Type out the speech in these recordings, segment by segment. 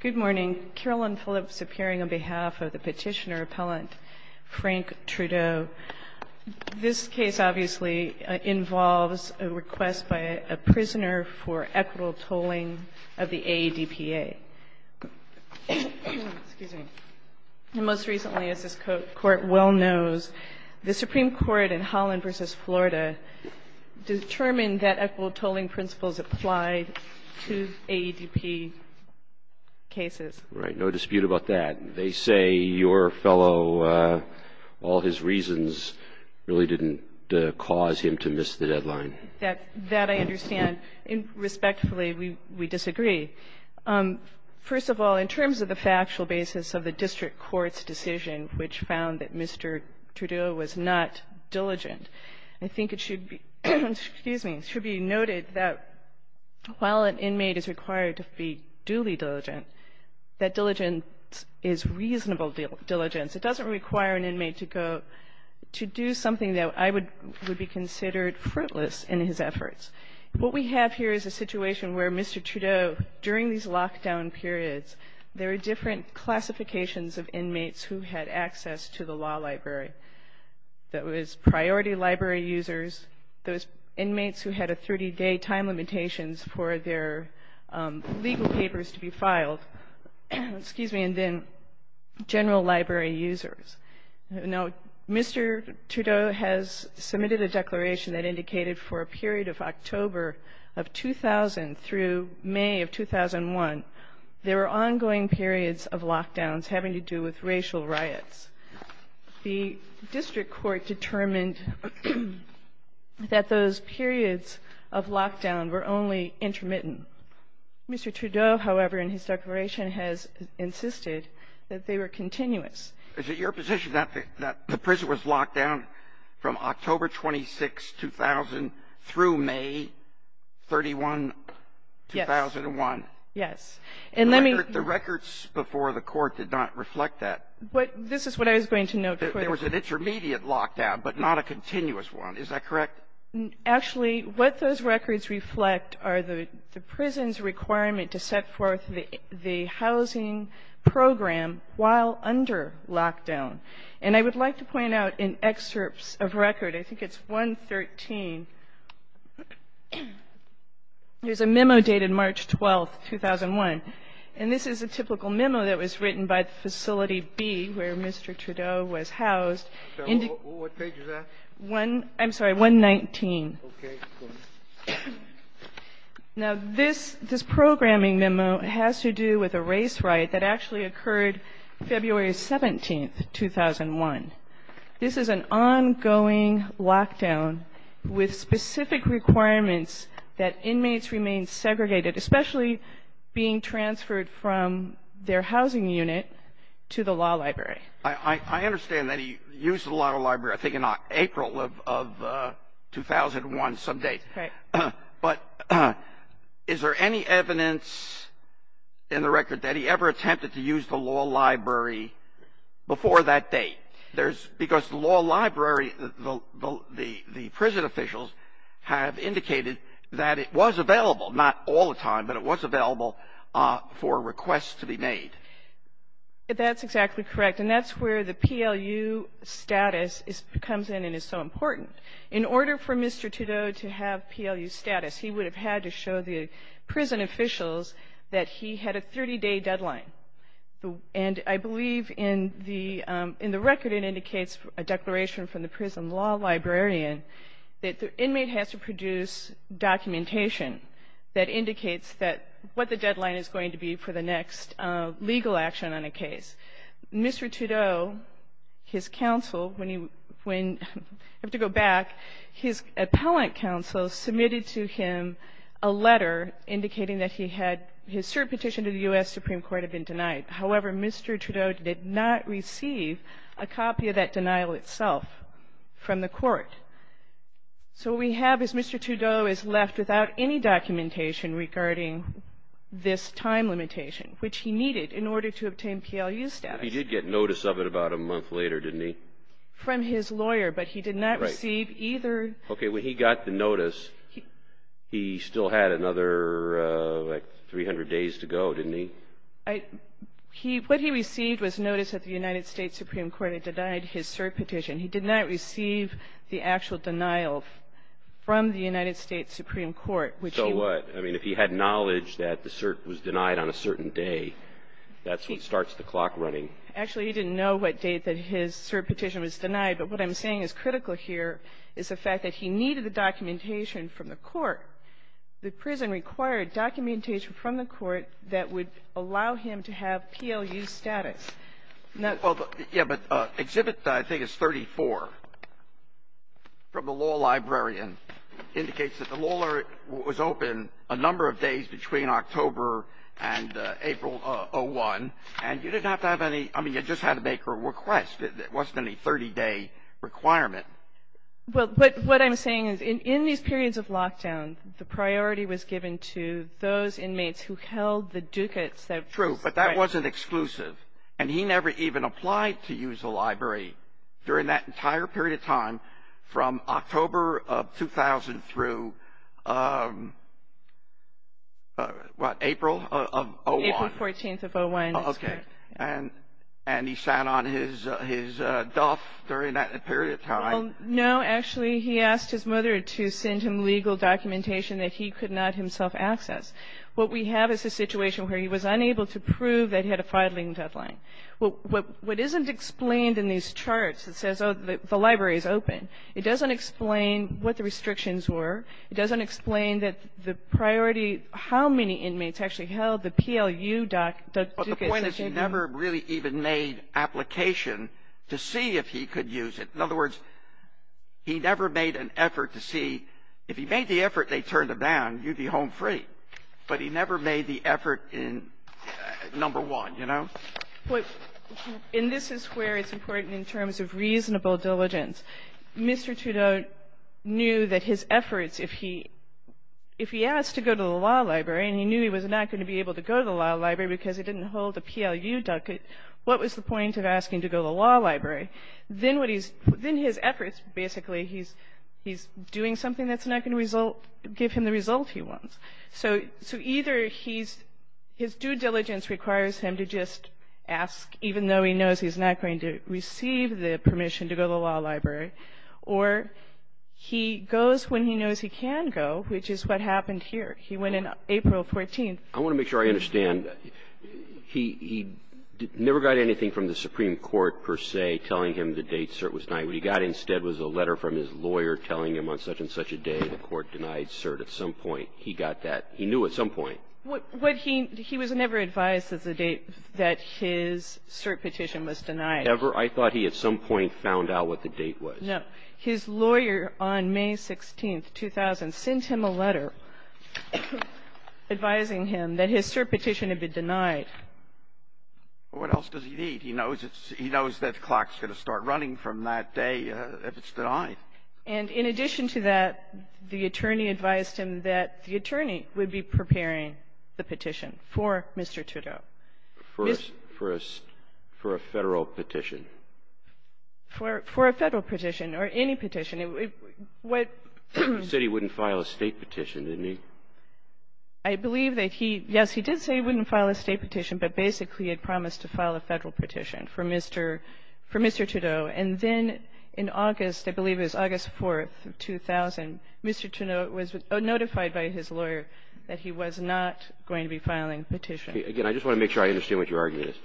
Good morning. Carolyn Phillips appearing on behalf of the petitioner-appellant Frank Trudeau. This case obviously involves a request by a prisoner for equitable tolling of the AEDPA. And most recently, as this Court well knows, the Supreme Court in Holland v. Florida determined that equitable tolling principles applied to AEDP cases. Right. No dispute about that. They say your fellow, all his reasons really didn't cause him to miss the deadline. That I understand. Respectfully, we disagree. First of all, in terms of the factual basis of the district court's decision, which found that Mr. Trudeau was not diligent, I think it should be noted that while an inmate is required to be duly diligent, that diligence is reasonable diligence. It doesn't require an inmate to go to do something that I would be considered fruitless in his efforts. What we have here is a situation where Mr. Trudeau, during these lockdown periods, there were different classifications of inmates who had access to the law library. There was priority library users, there was inmates who had a 30-day time limitations for their legal papers to be filed, and then general library users. Now, Mr. Trudeau has submitted a declaration that indicated for a period of October of 2000 through May of 2001, there were ongoing periods of lockdowns having to do with racial riots. The district court determined that those periods of lockdown were only intermittent. Mr. Trudeau, however, in his declaration has insisted that they were continuous. Is it your position that the prison was locked down from October 26, 2000, through May 31, 2001? Yes. The records before the court did not reflect that. This is what I was going to note. There was an intermediate lockdown, but not a continuous one. Is that correct? Actually, what those records reflect are the prison's requirement to set forth the housing program while under lockdown. And I would like to point out in excerpts of record, I think it's 113, there's a memo dated March 12, 2001. And this is a typical memo that was written by Facility B where Mr. Trudeau was housed. What page is that? I'm sorry, 119. Okay. Now, this programming memo has to do with a race riot that actually occurred February 17, 2001. This is an ongoing lockdown with specific requirements that inmates remain segregated, especially being transferred from their housing unit to the law library. I understand that he used the law library, I think, in April of 2001, some date. Right. But is there any evidence in the record that he ever attempted to use the law library before that date? Because the law library, the prison officials have indicated that it was available, not all the time, but it was available for requests to be made. That's exactly correct. And that's where the PLU status comes in and is so important. In order for Mr. Trudeau to have PLU status, he would have had to show the prison officials that he had a 30-day deadline. And I believe in the record it indicates a declaration from the prison law librarian that the inmate has to produce documentation that indicates what the deadline is going to be for the next legal action on a case. Mr. Trudeau, his counsel, when you have to go back, his appellant counsel submitted to him a letter indicating that he had his cert petition to the U.S. Supreme Court had been denied. However, Mr. Trudeau did not receive a copy of that denial itself from the court. So what we have is Mr. Trudeau is left without any documentation regarding this time limitation, which he needed in order to obtain PLU status. He did get notice of it about a month later, didn't he? From his lawyer, but he did not receive either. Okay, when he got the notice, he still had another 300 days to go, didn't he? What he received was notice that the United States Supreme Court had denied his cert petition. He did not receive the actual denial from the United States Supreme Court. So what? I mean, if he had knowledge that the cert was denied on a certain day, that's what starts the clock running. Actually, he didn't know what date that his cert petition was denied. But what I'm saying is critical here is the fact that he needed the documentation from the court. The prison required documentation from the court that would allow him to have PLU status. Well, yeah, but Exhibit, I think, is 34 from the law librarian. It indicates that the law was open a number of days between October and April of 01. And you didn't have to have any – I mean, you just had to make a request. It wasn't any 30-day requirement. Well, but what I'm saying is in these periods of lockdown, the priority was given to those inmates who held the ducats that – True, but that wasn't exclusive. And he never even applied to use the library during that entire period of time from October of 2000 through, what, April of 01. April 14th of 01. Okay. And he sat on his duff during that period of time. No, actually, he asked his mother to send him legal documentation that he could not himself access. What we have is a situation where he was unable to prove that he had a filing deadline. What isn't explained in these charts that says, oh, the library is open, it doesn't explain what the restrictions were. It doesn't explain that the priority – how many inmates actually held the PLU ducats. The point is he never really even made application to see if he could use it. In other words, he never made an effort to see – if he made the effort and they turned him down, you'd be home free. But he never made the effort in – number one, you know. And this is where it's important in terms of reasonable diligence. Mr. Trudeau knew that his efforts, if he asked to go to the law library, and he knew he was not going to be able to go to the law library because he didn't hold a PLU ducat, what was the point of asking to go to the law library? Then what he's – then his efforts, basically, he's doing something that's not going to result – give him the result he wants. So either he's – his due diligence requires him to just ask, even though he knows he's not going to receive the permission to go to the law library, or he goes when he knows he can go, which is what happened here. He went in April 14th. I want to make sure I understand. He never got anything from the Supreme Court, per se, telling him the date cert was denied. What he got instead was a letter from his lawyer telling him on such and such a day the court denied cert. At some point, he got that. He knew at some point. What he – he was never advised at the date that his cert petition was denied. Ever? I thought he at some point found out what the date was. No. His lawyer on May 16th, 2000, sent him a letter advising him that his cert petition had been denied. Well, what else does he need? He knows it's – he knows that clock's going to start running from that day if it's denied. And in addition to that, the attorney advised him that the attorney would be preparing the petition for Mr. Trudeau. For a – for a – for a Federal petition? For – for a Federal petition or any petition. What – He said he wouldn't file a State petition, didn't he? I believe that he – yes, he did say he wouldn't file a State petition, but basically he had promised to file a Federal petition for Mr. – for Mr. Trudeau. And then in August, I believe it was August 4th, 2000, Mr. Trudeau was notified by his lawyer that he was not going to be filing a petition. Again, I just want to make sure I understand what your argument is.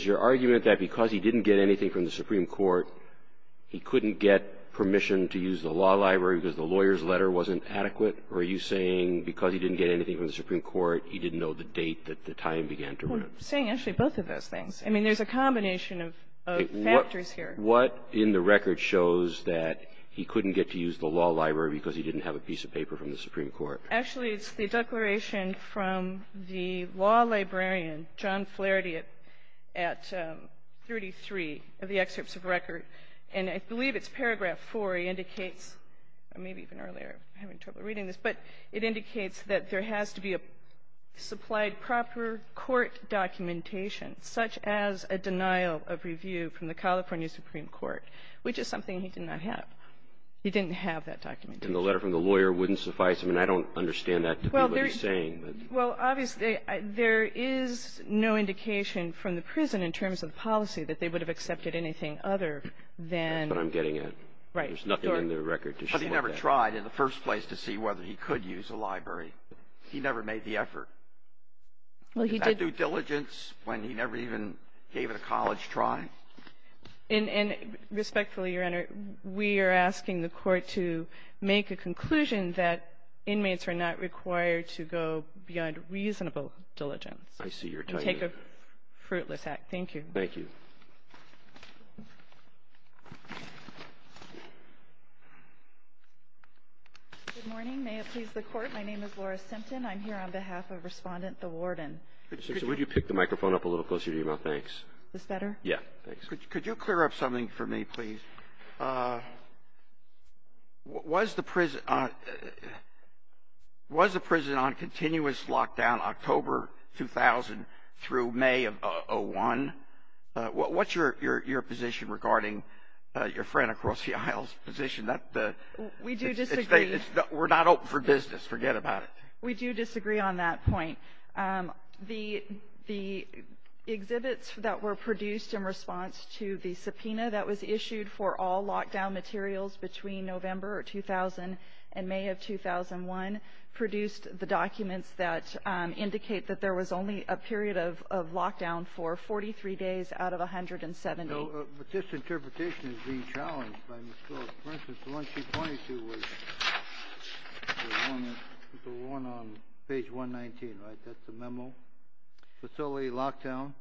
Is your argument that because he didn't get anything from the Supreme Court, he couldn't get permission to use the law library because the lawyer's letter wasn't adequate? Or are you saying because he didn't get anything from the Supreme Court, he didn't know the date that the time began to run? I'm saying actually both of those things. I mean, there's a combination of factors here. What in the record shows that he couldn't get to use the law library because he didn't have a piece of paper from the Supreme Court? Actually, it's the declaration from the law librarian, John Flaherty, at 33 of the excerpts of record, and I believe it's paragraph 4. It indicates – maybe even earlier, I'm having trouble reading this – but it indicates that there has to be a supplied proper court documentation, such as a denial of review from the California Supreme Court, which is something he did not have. He didn't have that documentation. And the letter from the lawyer wouldn't suffice? I mean, I don't understand that to be what he's saying. Well, obviously, there is no indication from the prison in terms of policy that they would have accepted anything other than the – That's what I'm getting at. Right. There's nothing in the record to show that. But he never tried in the first place to see whether he could use a library. He never made the effort. Well, he did – Was that due diligence when he never even gave it a college try? And respectfully, Your Honor, we are asking the Court to make a conclusion that inmates are not required to go beyond reasonable diligence. I see your timing. And take a fruitless act. Thank you. Thank you. Good morning. May it please the Court. My name is Laura Simpton. I'm here on behalf of Respondent Thawarden. Would you pick the microphone up a little closer to your mouth? Thanks. Is this better? Yeah. Thanks. Could you clear up something for me, please? Was the prison on continuous lockdown October 2000 through May of 2001? What's your position regarding your friend across the aisle's position? We do disagree. We're not open for business. Forget about it. We do disagree on that point. The exhibits that were produced in response to the subpoena that was issued for all lockdown materials between November 2000 and May of 2001 produced the documents that indicate that there was only a period of lockdown for 43 days out of 170. But this interpretation is being challenged by Ms. Jones. For instance, the one she pointed to was the one on page 119, right? That's the memo. Facility lockdown.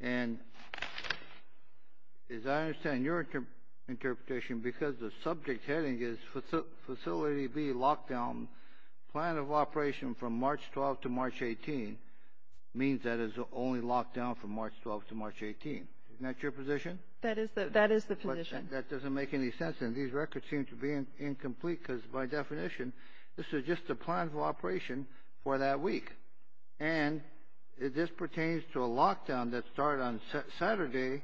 And as I understand your interpretation, because the subject heading is Facility B Lockdown, plan of operation from March 12th to March 18th, means that it's only lockdown from March 12th to March 18th. Isn't that your position? That is the position. That doesn't make any sense, and these records seem to be incomplete because, by definition, this is just a plan of operation for that week. And this pertains to a lockdown that started on Saturday.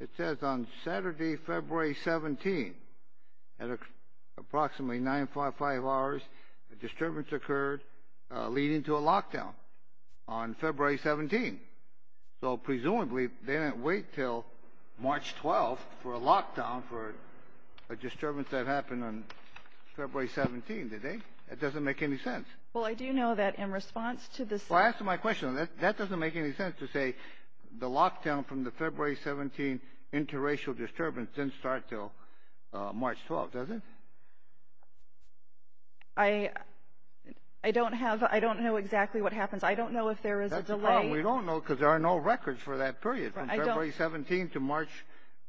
It says on Saturday, February 17th, at approximately 955 hours, a disturbance occurred leading to a lockdown on February 17th. So, presumably, they didn't wait until March 12th for a lockdown for a disturbance that happened on February 17th, did they? That doesn't make any sense. Well, I do know that in response to this. Well, answer my question. That doesn't make any sense to say the lockdown from the February 17th interracial disturbance didn't start until March 12th, does it? I don't know exactly what happens. I don't know if there is a delay. Well, we don't know because there are no records for that period, from February 17th to March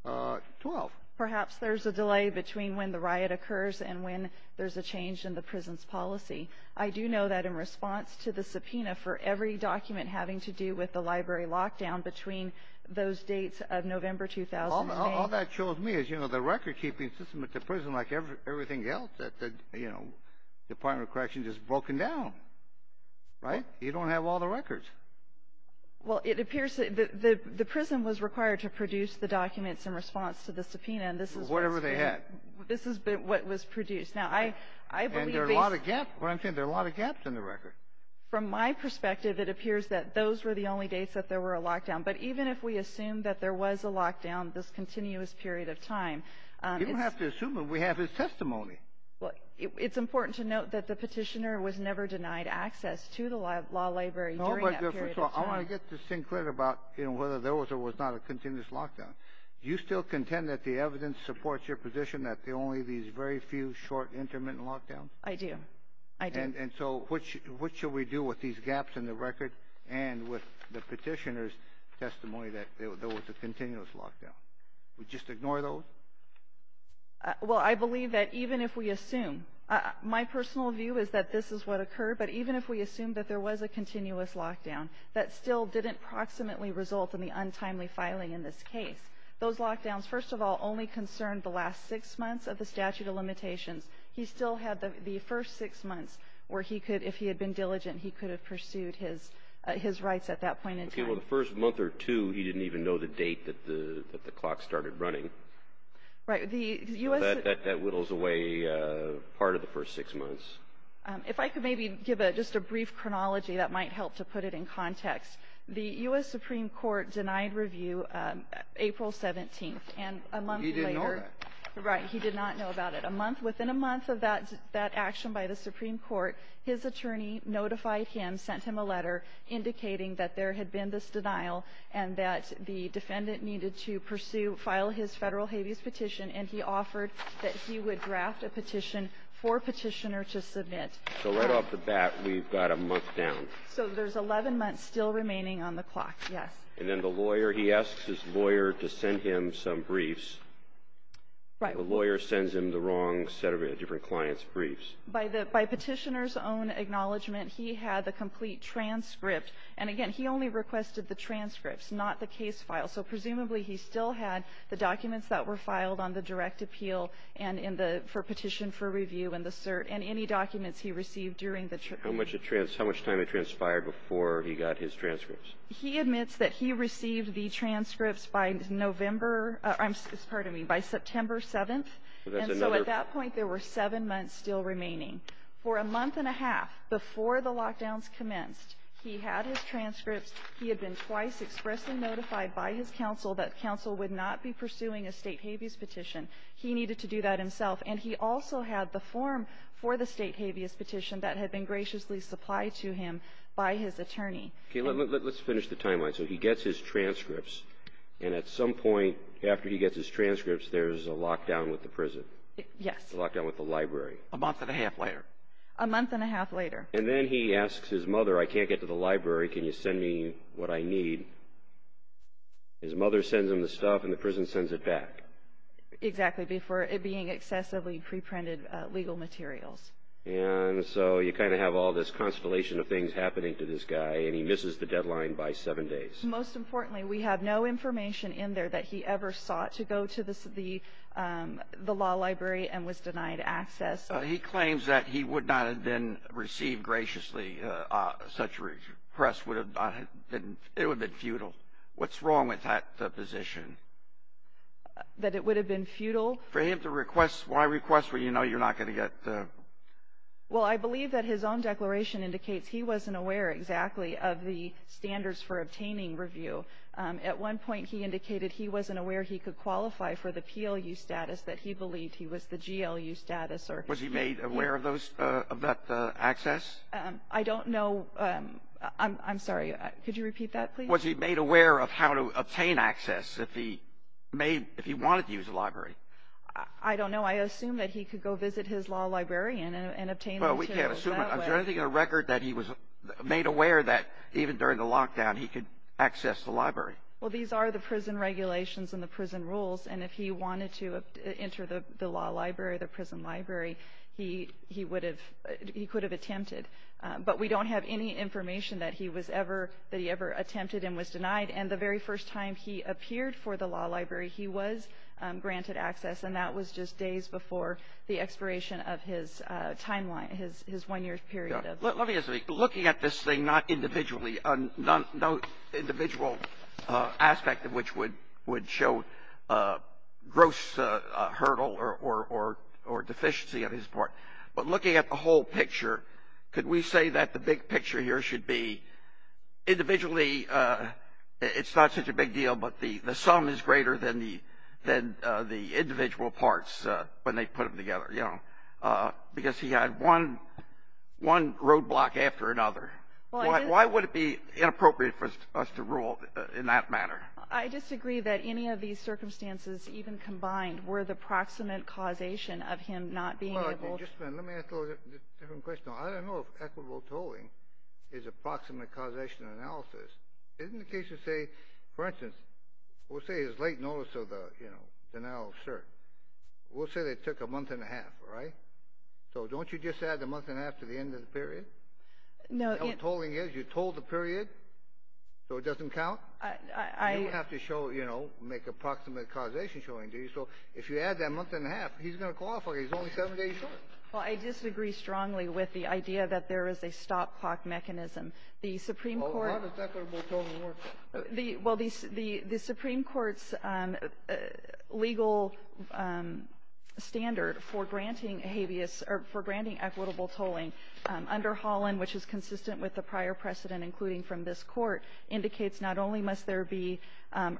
12th. Perhaps there's a delay between when the riot occurs and when there's a change in the prison's policy. I do know that in response to the subpoena for every document having to do with the library lockdown between those dates of November 2008. All that shows me is, you know, the record-keeping system at the prison, like everything else at the Department of Corrections, is broken down, right? You don't have all the records. Well, it appears that the prison was required to produce the documents in response to the subpoena. Whatever they had. This is what was produced. And there are a lot of gaps. What I'm saying, there are a lot of gaps in the record. From my perspective, it appears that those were the only dates that there were a lockdown. But even if we assume that there was a lockdown this continuous period of time. You don't have to assume it. We have his testimony. It's important to note that the petitioner was never denied access to the law library during that period of time. I want to get this thing clear about whether there was or was not a continuous lockdown. Do you still contend that the evidence supports your position that there were only these very few short, intermittent lockdowns? I do. I do. And so what should we do with these gaps in the record and with the petitioner's testimony that there was a continuous lockdown? We just ignore those? Well, I believe that even if we assume. My personal view is that this is what occurred. But even if we assume that there was a continuous lockdown, that still didn't proximately result in the untimely filing in this case. Those lockdowns, first of all, only concerned the last six months of the statute of limitations. He still had the first six months where he could, if he had been diligent, he could have pursued his rights at that point in time. Well, the first month or two, he didn't even know the date that the clock started running. Right. That whittles away part of the first six months. If I could maybe give just a brief chronology, that might help to put it in context. The U.S. Supreme Court denied review April 17th. He didn't know that. Right. He did not know about it. Within a month of that action by the Supreme Court, his attorney notified him, sent him a letter, indicating that there had been this denial and that the defendant needed to pursue, file his federal habeas petition, and he offered that he would draft a petition for a petitioner to submit. So right off the bat, we've got a month down. So there's 11 months still remaining on the clock, yes. And then the lawyer, he asks his lawyer to send him some briefs. Right. The lawyer sends him the wrong set of different clients' briefs. By petitioner's own acknowledgment, he had the complete transcript. And again, he only requested the transcripts, not the case file. So presumably he still had the documents that were filed on the direct appeal and in the petition for review and the cert and any documents he received during the trip. How much time had transpired before he got his transcripts? He admits that he received the transcripts by November — pardon me, by September 7th. So that's another — Meaning for a month and a half before the lockdowns commenced, he had his transcripts. He had been twice expressly notified by his counsel that counsel would not be pursuing a state habeas petition. He needed to do that himself. And he also had the form for the state habeas petition that had been graciously supplied to him by his attorney. Okay. Let's finish the timeline. So he gets his transcripts, and at some point after he gets his transcripts, there's a lockdown with the prison. Yes. A lockdown with the library. A month and a half later. A month and a half later. And then he asks his mother, I can't get to the library. Can you send me what I need? His mother sends him the stuff, and the prison sends it back. Exactly. Before it being excessively pre-printed legal materials. And so you kind of have all this constellation of things happening to this guy, and he misses the deadline by seven days. Most importantly, we have no information in there that he ever sought to go to the law library and was denied access. He claims that he would not have been received graciously. Such a request would have been futile. What's wrong with that position? That it would have been futile? For him to request, why request when you know you're not going to get? Well, I believe that his own declaration indicates he wasn't aware exactly of the standards for obtaining review. At one point he indicated he wasn't aware he could qualify for the PLU status, that he believed he was the GLU status. Was he made aware of that access? I don't know. I'm sorry. Could you repeat that, please? Was he made aware of how to obtain access if he wanted to use the library? I don't know. I assume that he could go visit his law librarian and obtain access that way. Is there anything in the record that he was made aware that even during the lockdown he could access the library? Well, these are the prison regulations and the prison rules, and if he wanted to enter the law library, the prison library, he would have – he could have attempted. But we don't have any information that he was ever – that he ever attempted and was denied. And the very first time he appeared for the law library, he was granted access, and that was just days before the expiration of his timeline, his one-year period. Let me ask you something. Looking at this thing not individually, no individual aspect of which would show gross hurdle or deficiency on his part, but looking at the whole picture, could we say that the big picture here should be individually it's not such a big deal, but the sum is greater than the individual parts when they put them together, you know, because he had one roadblock after another. Why would it be inappropriate for us to rule in that manner? I disagree that any of these circumstances even combined were the proximate causation of him not being able to – Well, just a minute. Let me ask a different question. I don't know if equitable tolling is a proximate causation analysis. Isn't the case to say, for instance, we'll say his late notice of the, you know, we'll say they took a month and a half, right? So don't you just add the month and a half to the end of the period? No. You know what tolling is? You toll the period so it doesn't count? I – You don't have to show, you know, make a proximate causation showing, do you? So if you add that month and a half, he's going to qualify. He's only seven days short. Well, I disagree strongly with the idea that there is a stop clock mechanism. The Supreme Court – How does equitable tolling work? Well, the Supreme Court's legal standard for granting habeas or for granting equitable tolling under Holland, which is consistent with the prior precedent including from this court, indicates not only must there be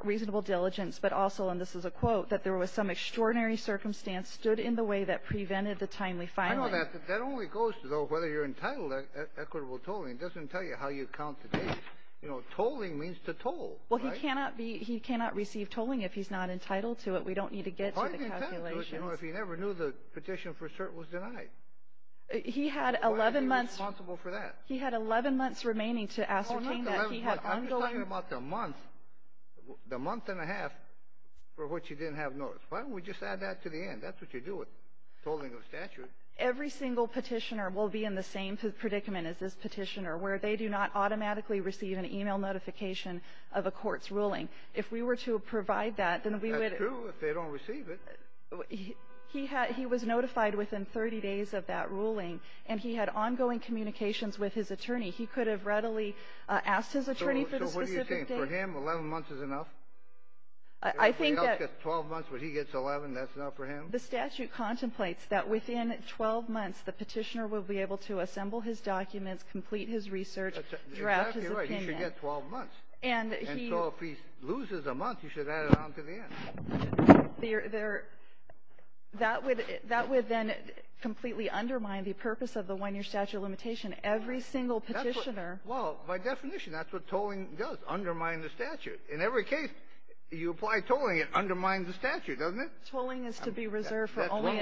reasonable diligence but also, and this is a quote, that there was some extraordinary circumstance stood in the way that prevented the timely filing. I know that. That only goes to, though, whether you're entitled to equitable tolling. It doesn't tell you how you count the days. You know, tolling means to toll, right? Well, he cannot be – he cannot receive tolling if he's not entitled to it. We don't need to get to the calculations. Well, he's entitled to it, you know, if he never knew the petition for cert was denied. He had 11 months – Why isn't he responsible for that? He had 11 months remaining to ascertain that he had – Oh, not 11 months. I'm just talking about the month, the month and a half for which he didn't have notice. Why don't we just add that to the end? That's what you do with tolling of statute. Every single petitioner will be in the same predicament as this petitioner where they do not automatically receive an email notification of a court's ruling. If we were to provide that, then we would – That's true if they don't receive it. He was notified within 30 days of that ruling, and he had ongoing communications with his attorney. He could have readily asked his attorney for the specific date. So what are you saying? For him, 11 months is enough? I think that – Everybody else gets 12 months, but he gets 11. That's enough for him? The statute contemplates that within 12 months, the petitioner will be able to assemble his documents, complete his research, draft his opinion. That's exactly right. He should get 12 months. And he – And so if he loses a month, you should add it on to the end. That would then completely undermine the purpose of the one-year statute of limitation. Every single petitioner – Well, by definition, that's what tolling does, undermine the statute. In every case you apply tolling, it undermines the statute, doesn't it? That's one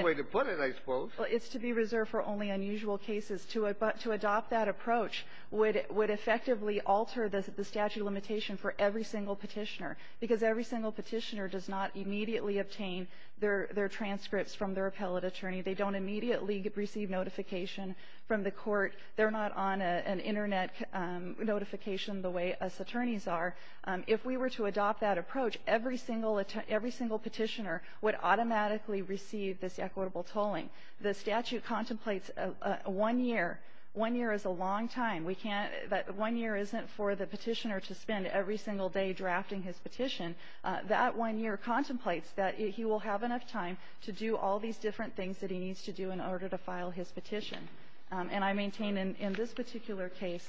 way to put it, I suppose. Well, it's to be reserved for only unusual cases. To adopt that approach would effectively alter the statute of limitation for every single petitioner because every single petitioner does not immediately obtain their transcripts from their appellate attorney. They don't immediately receive notification from the court. They're not on an Internet notification the way us attorneys are. If we were to adopt that approach, every single petitioner would automatically receive this equitable tolling. The statute contemplates one year. One year is a long time. We can't – one year isn't for the petitioner to spend every single day drafting his petition. That one year contemplates that he will have enough time to do all these different things that he needs to do in order to file his petition. And I maintain in this particular case,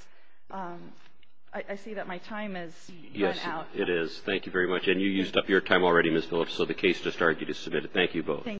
I see that my time has run out. Yes, it is. Thank you very much. And you used up your time already, Ms. Phillips, so the case just argued is submitted. Thank you both. Thank you.